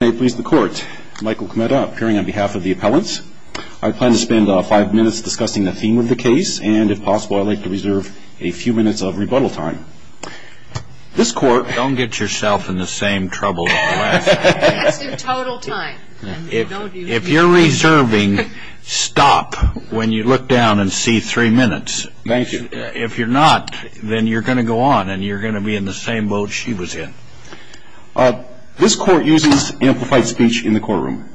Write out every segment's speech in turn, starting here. May it please the court, Michael Kmeta appearing on behalf of the appellants. I plan to spend five minutes discussing the theme of the case, and if possible, I'd like to reserve a few minutes of rebuttal time. This court Don't get yourself in the same trouble as the last one. That's in total time. If you're reserving, stop when you look down and see three minutes. Thank you. If you're not, then you're going to go on and you're going to be in the same boat she was in. This court uses amplified speech in the courtroom.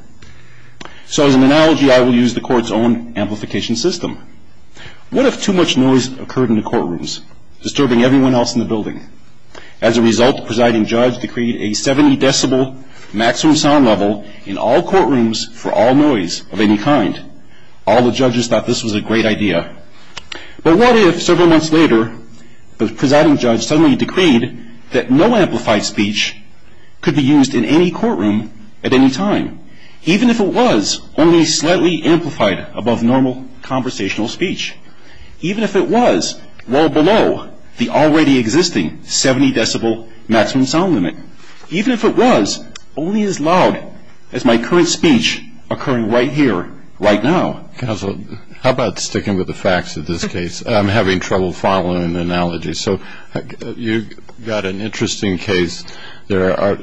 So as an analogy, I will use the court's own amplification system. What if too much noise occurred in the courtrooms, disturbing everyone else in the building? As a result, the presiding judge decreed a 70 decibel maximum sound level in all courtrooms for all noise of any kind. All the judges thought this was a great idea. But what if several months later, the presiding judge suddenly decreed that no amplified speech could be used in any courtroom at any time, even if it was only slightly amplified above normal conversational speech, even if it was well below the already existing 70 decibel maximum sound limit, even if it was only as loud as my current speech occurring right here, right now? Counsel, how about sticking with the facts of this case? I'm having trouble following an analogy. So you've got an interesting case. I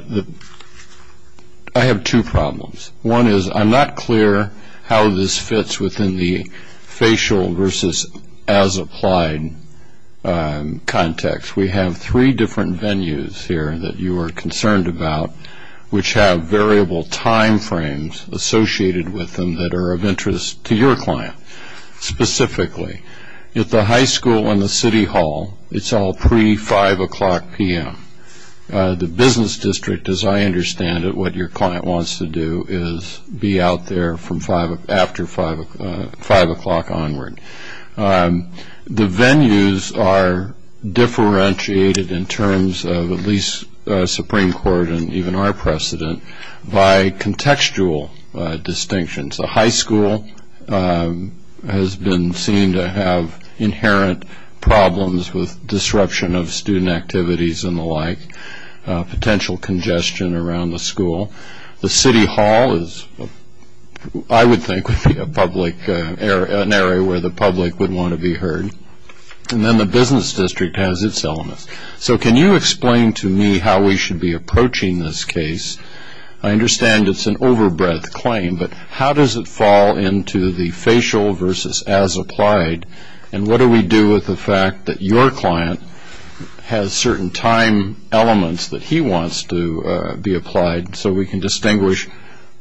have two problems. One is I'm not clear how this fits within the facial versus as applied context. We have three different venues here that you are concerned about, which have variable time frames associated with them that are of interest to your client specifically. At the high school and the city hall, it's all pre-5 o'clock p.m. The business district, as I understand it, what your client wants to do is be out there after 5 o'clock onward. The venues are differentiated in terms of at least Supreme Court and even our precedent by contextual distinctions. The high school has been seen to have inherent problems with disruption of student activities and the like, potential congestion around the school. The city hall, I would think, would be an area where the public would want to be heard. And then the business district has its elements. So can you explain to me how we should be approaching this case? I understand it's an over-breath claim, but how does it fall into the facial versus as applied, and what do we do with the fact that your client has certain time elements that he wants to be applied so we can distinguish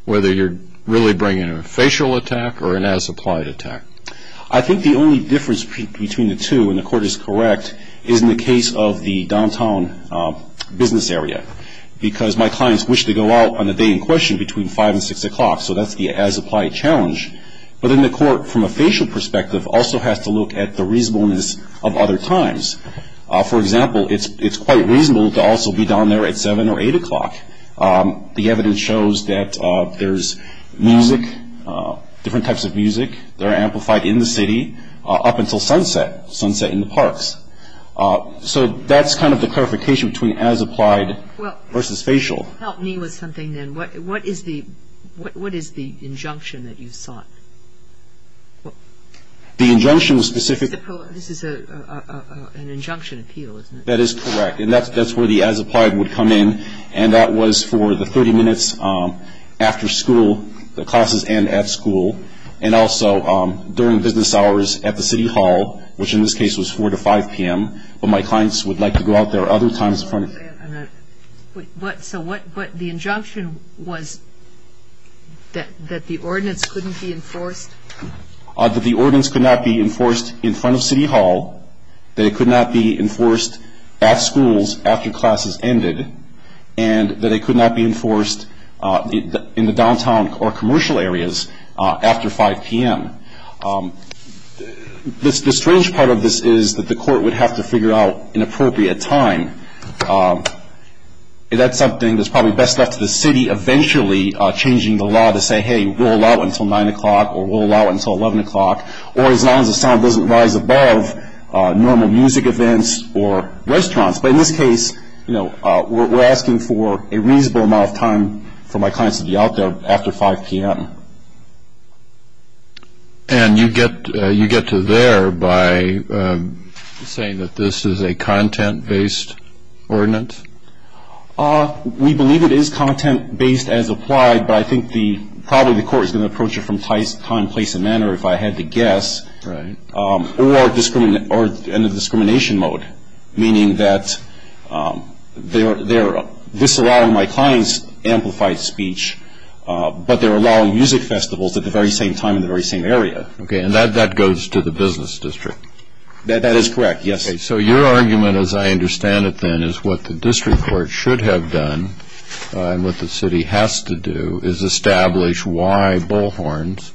whether you're really bringing a facial attack or an as applied attack? I think the only difference between the two, and the Court is correct, is in the case of the downtown business area. Because my clients wish to go out on the day in question between 5 and 6 o'clock, so that's the as applied challenge. But then the Court, from a facial perspective, also has to look at the reasonableness of other times. For example, it's quite reasonable to also be down there at 7 or 8 o'clock. The evidence shows that there's music, different types of music, that are amplified in the city up until sunset, sunset in the parks. So that's kind of the clarification between as applied versus facial. Well, help me with something then. What is the injunction that you sought? The injunction was specific. This is an injunction appeal, isn't it? That is correct. And that's where the as applied would come in. And that was for the 30 minutes after school, the classes and at school, and also during business hours at the city hall, which in this case was 4 to 5 p.m. But my clients would like to go out there other times. So the injunction was that the ordinance couldn't be enforced? That the ordinance could not be enforced in front of city hall, that it could not be enforced at schools after classes ended, and that it could not be enforced in the downtown or commercial areas after 5 p.m. The strange part of this is that the court would have to figure out an appropriate time. That's something that's probably best left to the city eventually changing the law to say, hey, we'll allow it until 9 o'clock or we'll allow it until 11 o'clock. Or as long as the sound doesn't rise above normal music events or restaurants. But in this case, you know, we're asking for a reasonable amount of time for my clients to be out there after 5 p.m. And you get to there by saying that this is a content-based ordinance? We believe it is content-based as applied, but I think probably the court is going to approach it from time, place, and manner if I had to guess. Right. Or in a discrimination mode, meaning that they're disallowing my clients amplified speech, but they're allowing music festivals at the very same time in the very same area. Okay, and that goes to the business district? That is correct, yes. So your argument, as I understand it then, is what the district court should have done and what the city has to do is establish why bullhorns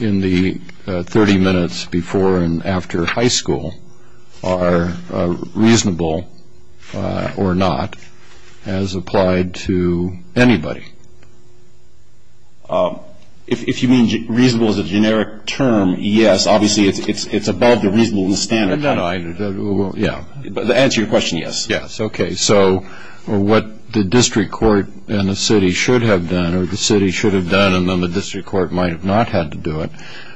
in the 30 minutes before and after high school are reasonable or not as applied to anybody. If you mean reasonable as a generic term, yes, obviously it's above the reasonable standard. To answer your question, yes. Okay, so what the district court and the city should have done, or the city should have done and then the district court might have not had to do it,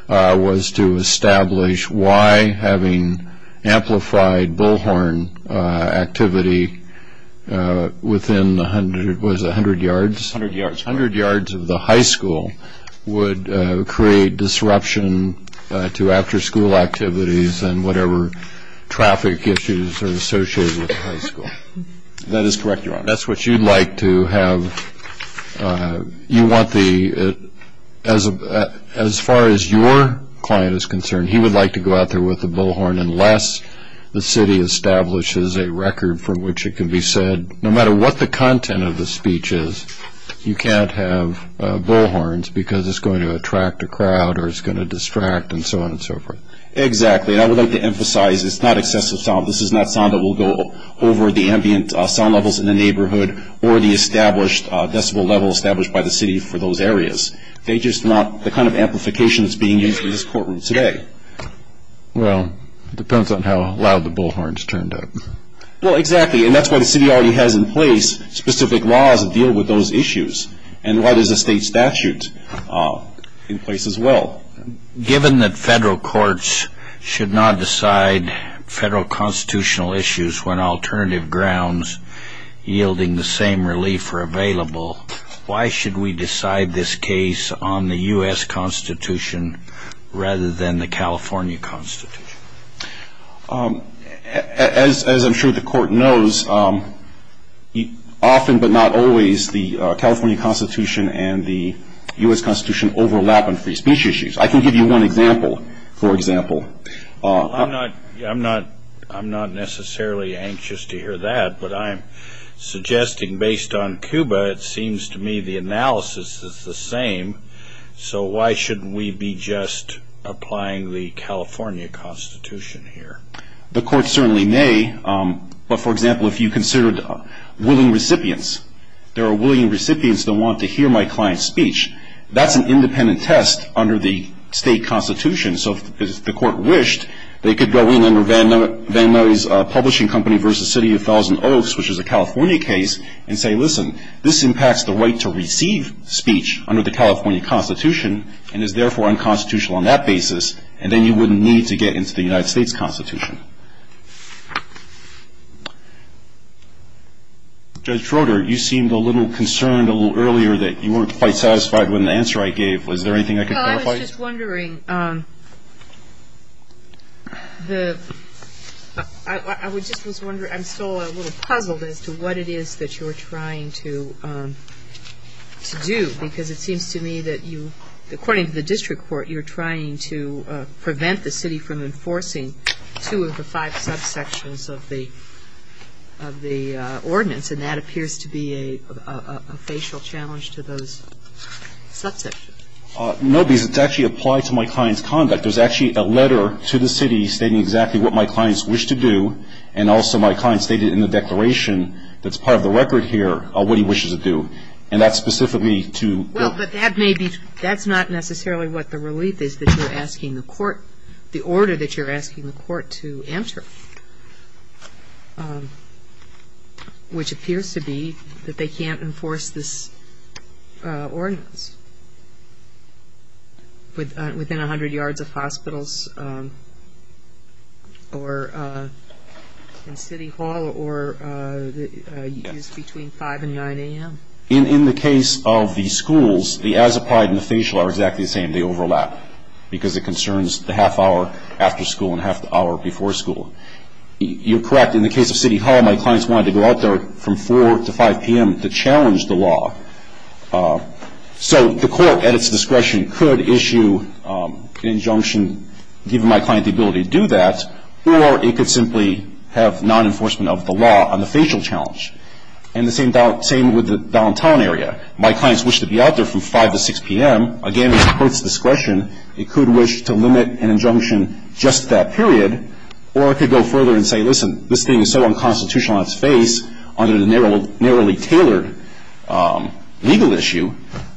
was to establish why having amplified bullhorn activity within 100 yards of the high school would create disruption to after school activities and whatever traffic issues are associated with the high school. That is correct, Your Honor. That's what you'd like to have. You want the, as far as your client is concerned, he would like to go out there with a bullhorn unless the city establishes a record from which it can be said, no matter what the content of the speech is, you can't have bullhorns because it's going to attract a crowd or it's going to distract and so on and so forth. Exactly, and I would like to emphasize it's not excessive sound. This is not sound that will go over the ambient sound levels in the neighborhood or the established decibel level established by the city for those areas. They're just not the kind of amplification that's being used in this courtroom today. Well, it depends on how loud the bullhorns turned up. Well, exactly, and that's why the city already has in place specific laws that deal with those issues and why there's a state statute in place as well. Given that federal courts should not decide federal constitutional issues when alternative grounds yielding the same relief are available, why should we decide this case on the U.S. Constitution rather than the California Constitution? As I'm sure the Court knows, often but not always, the California Constitution and the U.S. Constitution overlap on free speech issues. I can give you one example, for example. I'm not necessarily anxious to hear that, but I'm suggesting based on CUBA it seems to me the analysis is the same, so why shouldn't we be just applying the California Constitution here? The Court certainly may, but, for example, if you considered willing recipients, there are willing recipients that want to hear my client's speech. That's an independent test under the state constitution, so if the Court wished, they could go in under Van Murray's publishing company versus City of Thousand Oaks, which is a California case, and say, listen, this impacts the right to receive speech under the California Constitution and is therefore unconstitutional on that basis, and then you wouldn't need to get into the United States Constitution. Judge Schroeder, you seemed a little concerned a little earlier that you weren't quite satisfied with an answer I gave. Was there anything I could clarify? Well, I was just wondering. I was just wondering, I'm still a little puzzled as to what it is that you're trying to do, because it seems to me that you, according to the district court, you're trying to prevent the city from enforcing two of the five subsections of the ordinance, and that appears to be a facial challenge to those subsections. No, because it's actually applied to my client's conduct. There's actually a letter to the city stating exactly what my clients wish to do, and also my client stated in the declaration that's part of the record here what he wishes to do, and that's specifically to the ---- Well, but that may be ---- that's not necessarily what the relief is that you're asking the court, the order that you're asking the court to enter, which appears to be that they can't enforce this ordinance within 100 yards of hospitals or in City Hall or between 5 and 9 a.m. In the case of the schools, the as applied and the facial are exactly the same. They overlap because it concerns the half hour after school and half the hour before school. You're correct. In the case of City Hall, my clients wanted to go out there from 4 to 5 p.m. to challenge the law. So the court, at its discretion, could issue an injunction giving my client the ability to do that, or it could simply have non-enforcement of the law on the facial challenge. And the same with the downtown area. My clients wish to be out there from 5 to 6 p.m. Again, at the court's discretion, it could wish to limit an injunction just to that period, or it could go further and say, listen, this thing is so unconstitutional on its face under the narrowly tailored legal issue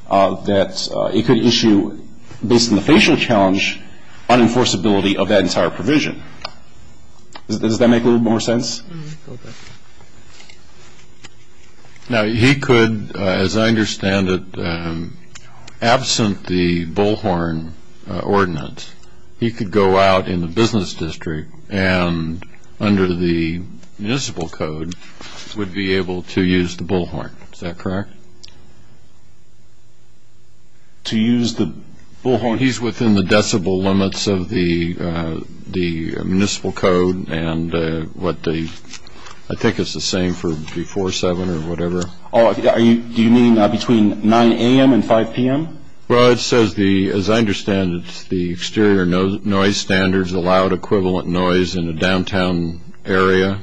that it could issue, based on the facial challenge, unenforceability of that entire provision. Does that make a little more sense? Now, he could, as I understand it, absent the Bullhorn ordinance, he could go out in the business district and, under the municipal code, would be able to use the Bullhorn. Is that correct? To use the Bullhorn. He's within the decibel limits of the municipal code and what the ‑‑ I think it's the same for before 7 or whatever. Do you mean between 9 a.m. and 5 p.m.? Well, it says the ‑‑ as I understand it, the exterior noise standards allowed equivalent noise in the downtown area.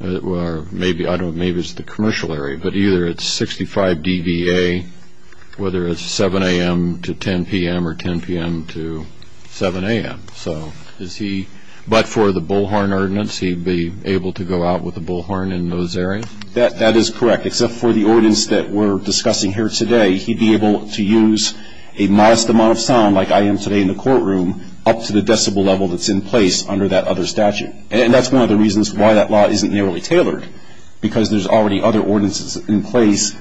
Or maybe, I don't know, maybe it's the commercial area. But either it's 65 dBA, whether it's 7 a.m. to 10 p.m. or 10 p.m. to 7 a.m. So is he ‑‑ but for the Bullhorn ordinance, he'd be able to go out with the Bullhorn in those areas? That is correct, except for the ordinance that we're discussing here today, he'd be able to use a modest amount of sound, like I am today in the courtroom, up to the decibel level that's in place under that other statute. And that's one of the reasons why that law isn't narrowly tailored, because there's already other ordinances in place.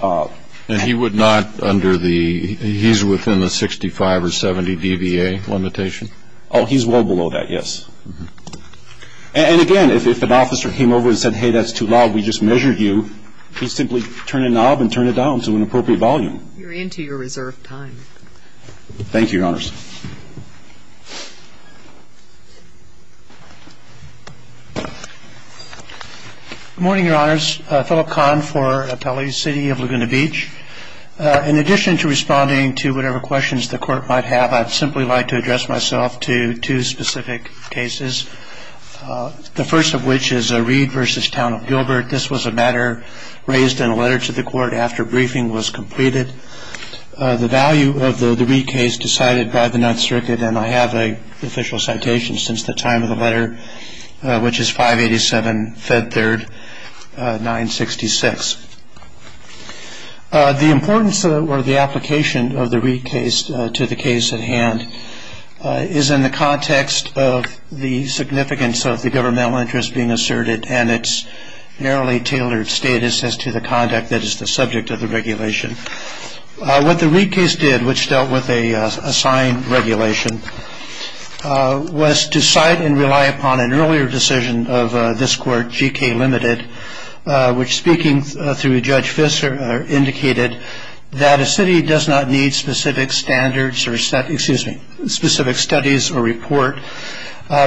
And he would not under the ‑‑ he's within the 65 or 70 dBA limitation? Oh, he's well below that, yes. And, again, if an officer came over and said, hey, that's too loud, we just measured you, he'd simply turn a knob and turn it down to an appropriate volume. You're into your reserved time. Thank you, Your Honors. Good morning, Your Honors. Philip Kahn for Atelier City of Laguna Beach. In addition to responding to whatever questions the Court might have, I'd simply like to address myself to two specific cases, the first of which is Reed v. Town of Gilbert. This was a matter raised in a letter to the Court after briefing was completed. The value of the Reed case decided by the Ninth Circuit, and I have an official citation since the time of the letter, which is 587 Fed Third 966. The importance or the application of the Reed case to the case at hand is in the context of the significance of the governmental interest being asserted and its narrowly tailored status as to the conduct that is the subject of the regulation. What the Reed case did, which dealt with a signed regulation, was to cite and rely upon an earlier decision of this Court, G.K. Limited, which speaking through Judge Fisher indicated that a city does not need specific standards or specific studies or report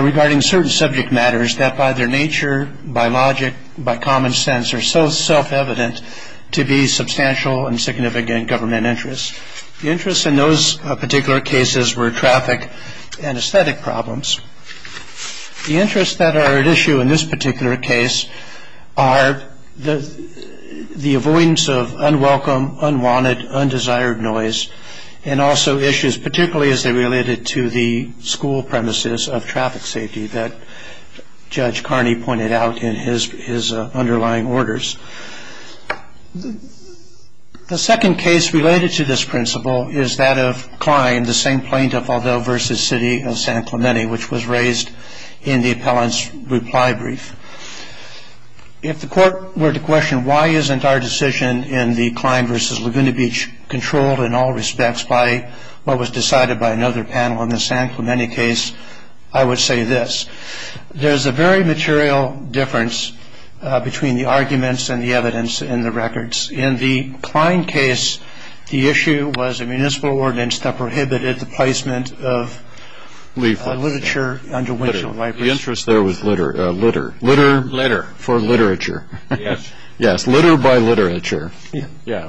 regarding certain subject matters that by their nature, by logic, by common sense are so self-evident to be substantial and significant government interests. The interests in those particular cases were traffic and aesthetic problems. The interests that are at issue in this particular case are the avoidance of unwelcome, unwanted, undesired noise, and also issues particularly as they related to the school premises of traffic safety that Judge Carney pointed out in his underlying orders. The second case related to this principle is that of Klein, the same plaintiff, although versus city of San Clemente, which was raised in the appellant's reply brief. If the Court were to question why isn't our decision in the Klein versus Laguna Beach controlled in all respects by what was decided by another panel in the San Clemente case, I would say this. There's a very material difference between the arguments and the evidence in the records. In the Klein case, the issue was a municipal ordinance that prohibited the placement of literature under windshield wipers. The interest there was litter. Litter. Litter. Litter. For literature. Yes. Yes. Litter by literature. Yeah.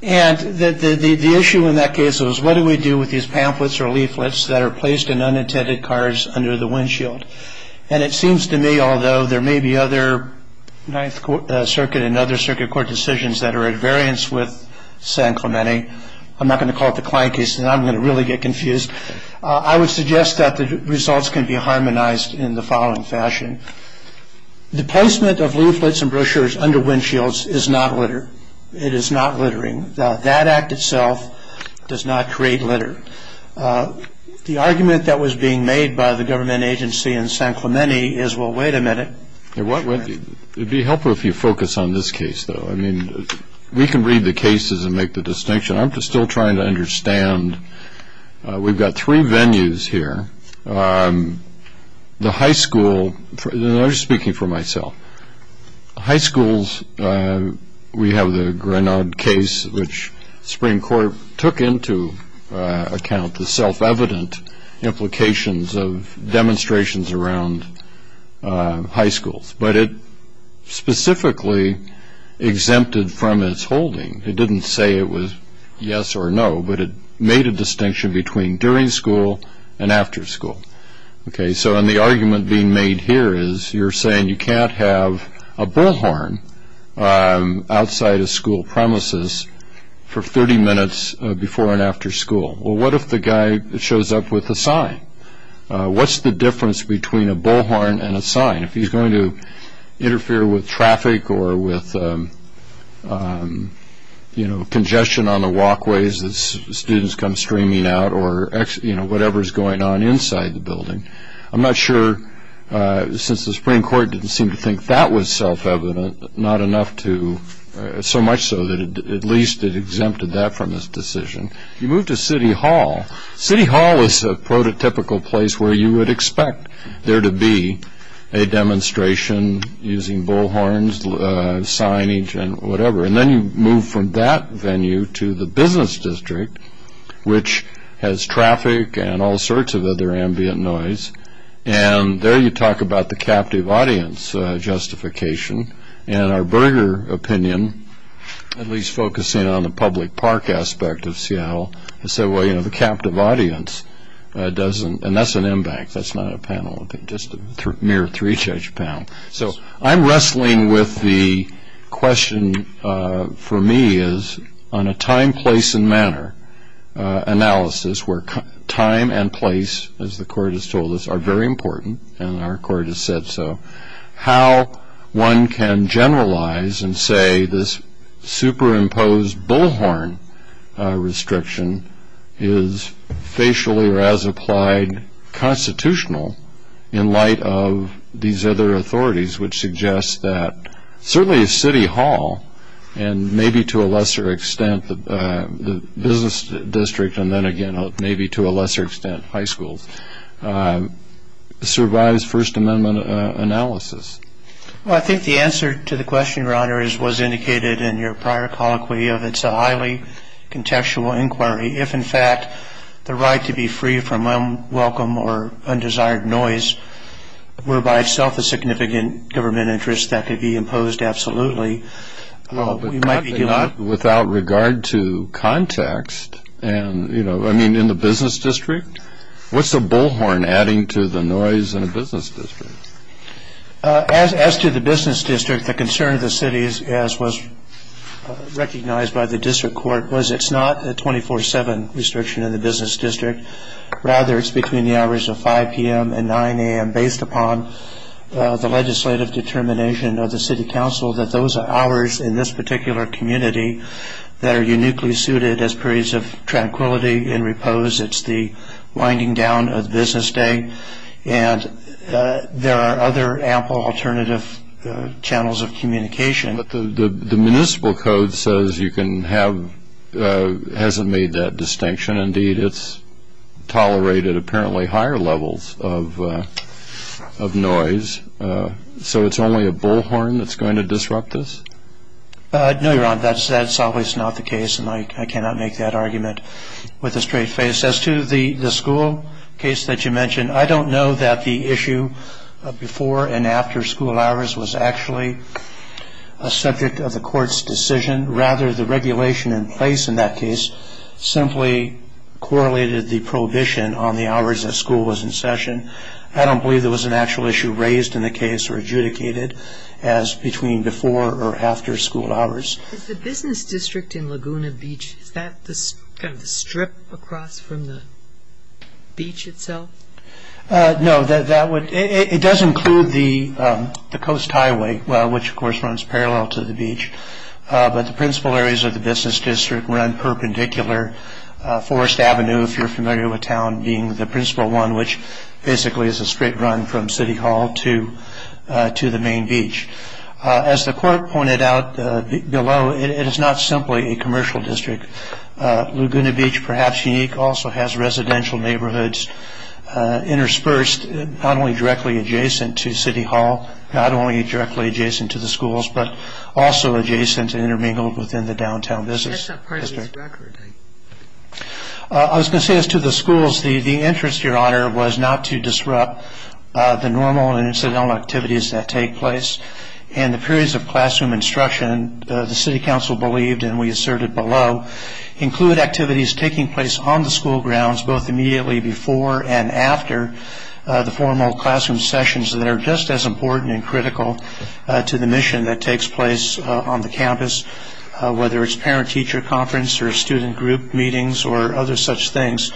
And the issue in that case was what do we do with these pamphlets or leaflets that are placed in unintended cars under the windshield? And it seems to me, although there may be other Ninth Circuit and other circuit court decisions that are at variance with San Clemente, I'm not going to call it the Klein case, and I'm going to really get confused, I would suggest that the results can be harmonized in the following fashion. The placement of leaflets and brochures under windshields is not litter. It is not littering. That act itself does not create litter. The argument that was being made by the government agency in San Clemente is, well, wait a minute. It would be helpful if you focus on this case, though. I mean, we can read the cases and make the distinction. I'm still trying to understand. We've got three venues here. The high school, and I'm just speaking for myself. High schools, we have the Grenard case, which the Supreme Court took into account the self-evident implications of demonstrations around high schools. But it specifically exempted from its holding. It didn't say it was yes or no, but it made a distinction between during school and after school. Okay, so the argument being made here is you're saying you can't have a bullhorn outside a school premises for 30 minutes before and after school. Well, what if the guy shows up with a sign? What's the difference between a bullhorn and a sign? If he's going to interfere with traffic or with congestion on the walkways as students come streaming out or whatever is going on inside the building. I'm not sure, since the Supreme Court didn't seem to think that was self-evident, not enough to, so much so that at least it exempted that from its decision. You move to City Hall. City Hall is a prototypical place where you would expect there to be a demonstration using bullhorns, signage, and whatever. And then you move from that venue to the Business District, which has traffic and all sorts of other ambient noise. And there you talk about the captive audience justification. And our Berger opinion, at least focusing on the public park aspect of Seattle, has said, well, you know, the captive audience doesn't. And that's an M-Bank. That's not a panel, just a mere three-judge panel. So I'm wrestling with the question for me is on a time, place, and manner analysis where time and place, as the Court has told us, are very important, and our Court has said so, how one can generalize and say this superimposed bullhorn restriction is facially or as applied constitutional in light of these other authorities, which suggests that certainly City Hall and maybe to a lesser extent the Business District, and then again maybe to a lesser extent high schools, survives First Amendment analysis. Well, I think the answer to the question, Your Honor, was indicated in your prior colloquy of it's a highly contextual inquiry. If, in fact, the right to be free from unwelcome or undesired noise were by itself a significant government interest that could be imposed absolutely, we might be doing it. But without regard to context and, you know, I mean in the Business District, what's the bullhorn adding to the noise in the Business District? As to the Business District, the concern of the city, as was recognized by the District Court, was it's not a 24-7 restriction in the Business District. Rather, it's between the hours of 5 p.m. and 9 a.m. based upon the legislative determination of the City Council that those are hours in this particular community that are uniquely suited as periods of tranquility and repose. It's the winding down of business day. And there are other ample alternative channels of communication. But the municipal code says you can have, hasn't made that distinction. Indeed, it's tolerated apparently higher levels of noise. So it's only a bullhorn that's going to disrupt this? No, Your Honor. That's always not the case, and I cannot make that argument with a straight face. As to the school case that you mentioned, I don't know that the issue of before and after school hours was actually a subject of the court's decision. Rather, the regulation in place in that case simply correlated the prohibition on the hours that school was in session. I don't believe there was an actual issue raised in the case or adjudicated as between before or after school hours. Is the Business District in Laguna Beach, is that kind of the strip across from the beach itself? No, it does include the Coast Highway, which, of course, runs parallel to the beach. But the principal areas of the Business District run perpendicular. Forest Avenue, if you're familiar with town, being the principal one, which basically is a straight run from City Hall to the main beach. As the court pointed out below, it is not simply a commercial district. Laguna Beach, perhaps unique, also has residential neighborhoods interspersed, not only directly adjacent to City Hall, not only directly adjacent to the schools, but also adjacent and intermingled within the downtown business district. I was going to say, as to the schools, the interest, Your Honor, was not to disrupt the normal and incidental activities that take place. In the periods of classroom instruction, the City Council believed, and we asserted below, include activities taking place on the school grounds both immediately before and after the formal classroom sessions that are just as important and critical to the mission that takes place on the campus, whether it's parent-teacher conference or student group meetings or other such things.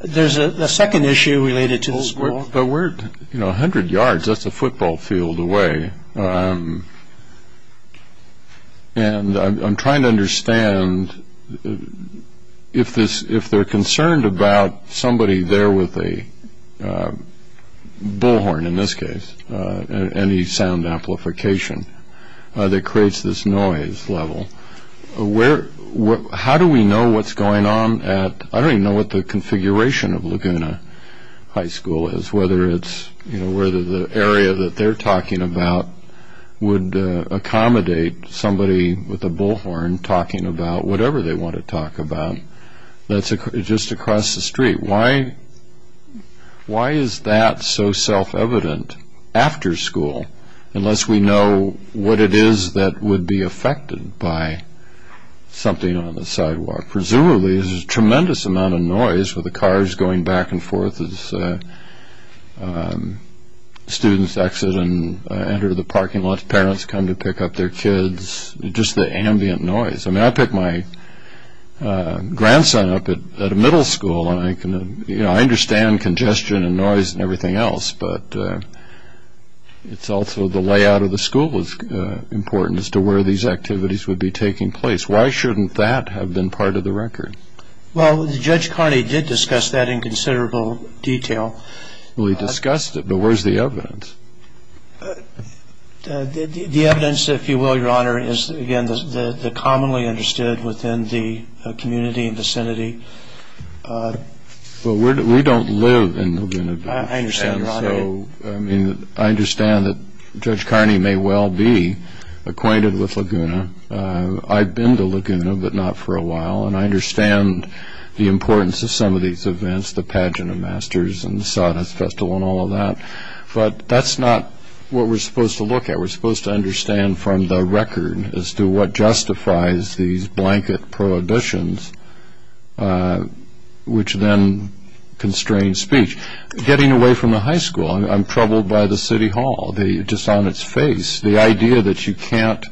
There's a second issue related to the school. But we're, you know, 100 yards. That's a football field away. And I'm trying to understand if they're concerned about somebody there with a bullhorn, in this case, any sound amplification that creates this noise level. How do we know what's going on at, I don't even know what the configuration of Laguna High School is, whether it's, you know, whether the area that they're talking about would accommodate somebody with a bullhorn talking about whatever they want to talk about that's just across the street. Why is that so self-evident after school unless we know what it is that would be affected by something on the sidewalk? Presumably, there's a tremendous amount of noise with the cars going back and forth as students exit and enter the parking lot, parents come to pick up their kids, just the ambient noise. I mean, I pick my grandson up at a middle school and, you know, I understand congestion and noise and everything else, but it's also the layout of the school that's important as to where these activities would be taking place. Why shouldn't that have been part of the record? Well, Judge Carney did discuss that in considerable detail. Well, he discussed it, but where's the evidence? The evidence, if you will, Your Honor, is, again, the commonly understood within the community and vicinity. Well, we don't live in Laguna Beach. I understand, Your Honor. And so, I mean, I understand that Judge Carney may well be acquainted with Laguna. I've been to Laguna, but not for a while, and I understand the importance of some of these events, such as the Pageant of Masters and the Sawdust Festival and all of that, but that's not what we're supposed to look at. We're supposed to understand from the record as to what justifies these blanket prohibitions, which then constrain speech. Getting away from the high school, I'm troubled by the city hall, just on its face. The idea that you can't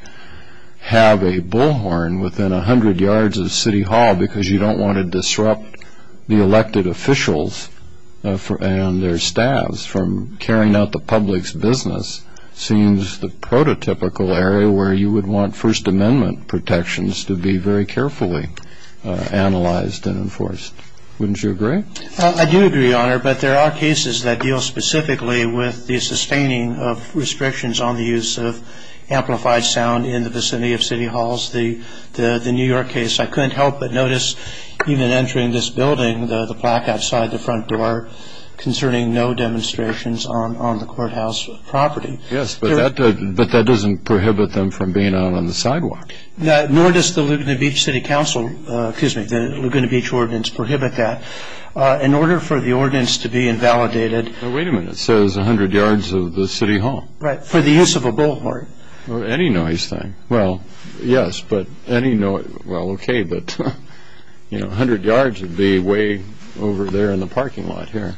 have a bullhorn within 100 yards of the city hall because you don't want to disrupt the elected officials and their staffs from carrying out the public's business seems the prototypical area where you would want First Amendment protections to be very carefully analyzed and enforced. Wouldn't you agree? I do agree, Your Honor, but there are cases that deal specifically with the sustaining of restrictions on the use of amplified sound in the vicinity of city halls. The New York case, I couldn't help but notice, even entering this building, the plaque outside the front door concerning no demonstrations on the courthouse property. Yes, but that doesn't prohibit them from being out on the sidewalk. Nor does the Laguna Beach City Council, excuse me, the Laguna Beach Ordinance prohibit that. In order for the ordinance to be invalidated. Wait a minute, it says 100 yards of the city hall. Right, for the use of a bullhorn. Or any noise thing. Well, yes, but any noise, well, okay, but 100 yards would be way over there in the parking lot here.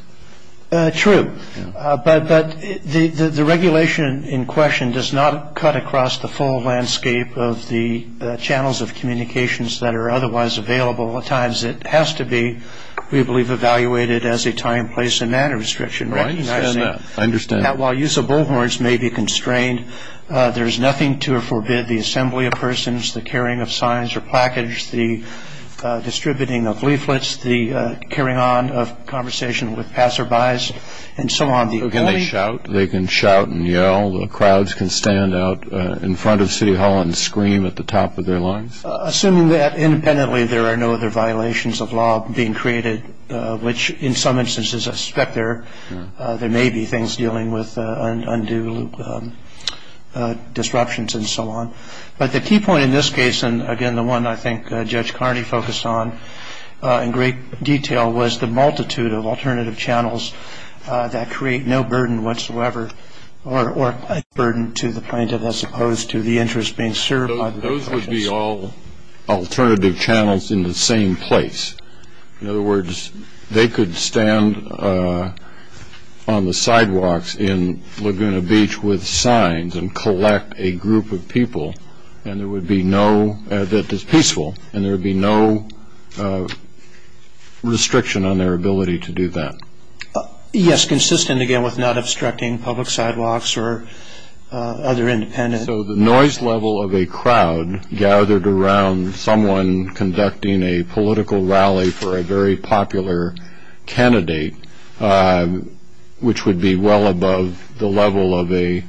True. But the regulation in question does not cut across the full landscape of the channels of communications that are otherwise available at times. It has to be, we believe, evaluated as a time, place, and manner restriction. Right. I understand that. While use of bullhorns may be constrained, there is nothing to forbid the assembly of persons, the carrying of signs or plackage, the distributing of leaflets, the carrying on of conversation with passerbys, and so on. So can they shout? They can shout and yell. The crowds can stand out in front of city hall and scream at the top of their lungs. Assuming that independently there are no other violations of law being created, which in some instances I suspect there may be things dealing with undue disruptions and so on. But the key point in this case, and, again, the one I think Judge Carney focused on in great detail, was the multitude of alternative channels that create no burden whatsoever or any burden to the plaintiff as opposed to the interest being served. Those would be all alternative channels in the same place. In other words, they could stand on the sidewalks in Laguna Beach with signs and collect a group of people that is peaceful, and there would be no restriction on their ability to do that. Yes, consistent, again, with not obstructing public sidewalks or other independent. So the noise level of a crowd gathered around someone conducting a political rally for a very popular candidate, which would be well above the level of a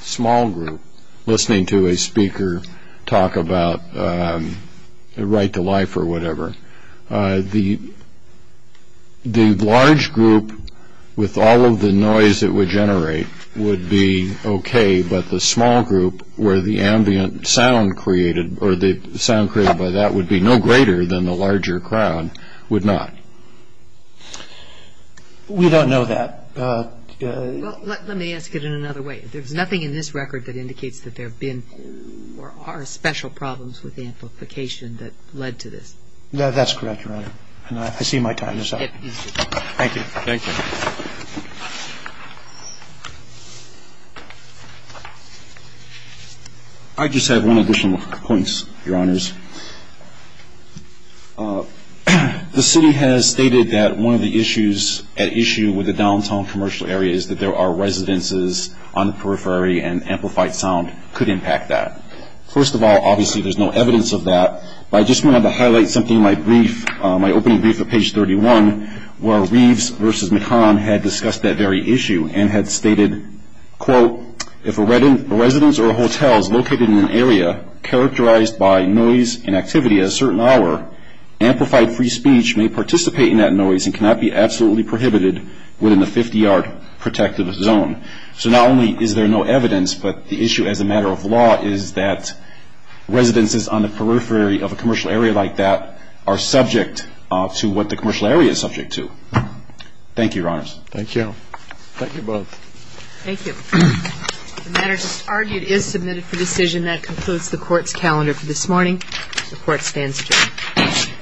small group listening to a speaker talk about the right to life or whatever. The large group with all of the noise it would generate would be okay, but the small group where the ambient sound created or the sound created by that would be no greater than the larger crowd would not. We don't know that. Well, let me ask it in another way. There's nothing in this record that indicates that there have been or are special problems with amplification that led to this. That's correct, Your Honor, and I see my time is up. Thank you. Thank you. I just have one additional point, Your Honors. The city has stated that one of the issues at issue with the downtown commercial area is that there are residences on the periphery and amplified sound could impact that. First of all, obviously there's no evidence of that, but I just wanted to highlight something in my brief, my opening brief at page 31, where Reeves v. McCann had discussed that very issue and had stated, quote, if a residence or a hotel is located in an area characterized by noise and activity at a certain hour, amplified free speech may participate in that noise and cannot be absolutely prohibited within the 50-yard protective zone. So not only is there no evidence, but the issue as a matter of law is that residences on the periphery of a commercial area like that are subject to what the commercial area is subject to. Thank you, Your Honors. Thank you. Thank you both. Thank you. The matter just argued is submitted for decision. That concludes the Court's calendar for this morning. The Court stands adjourned.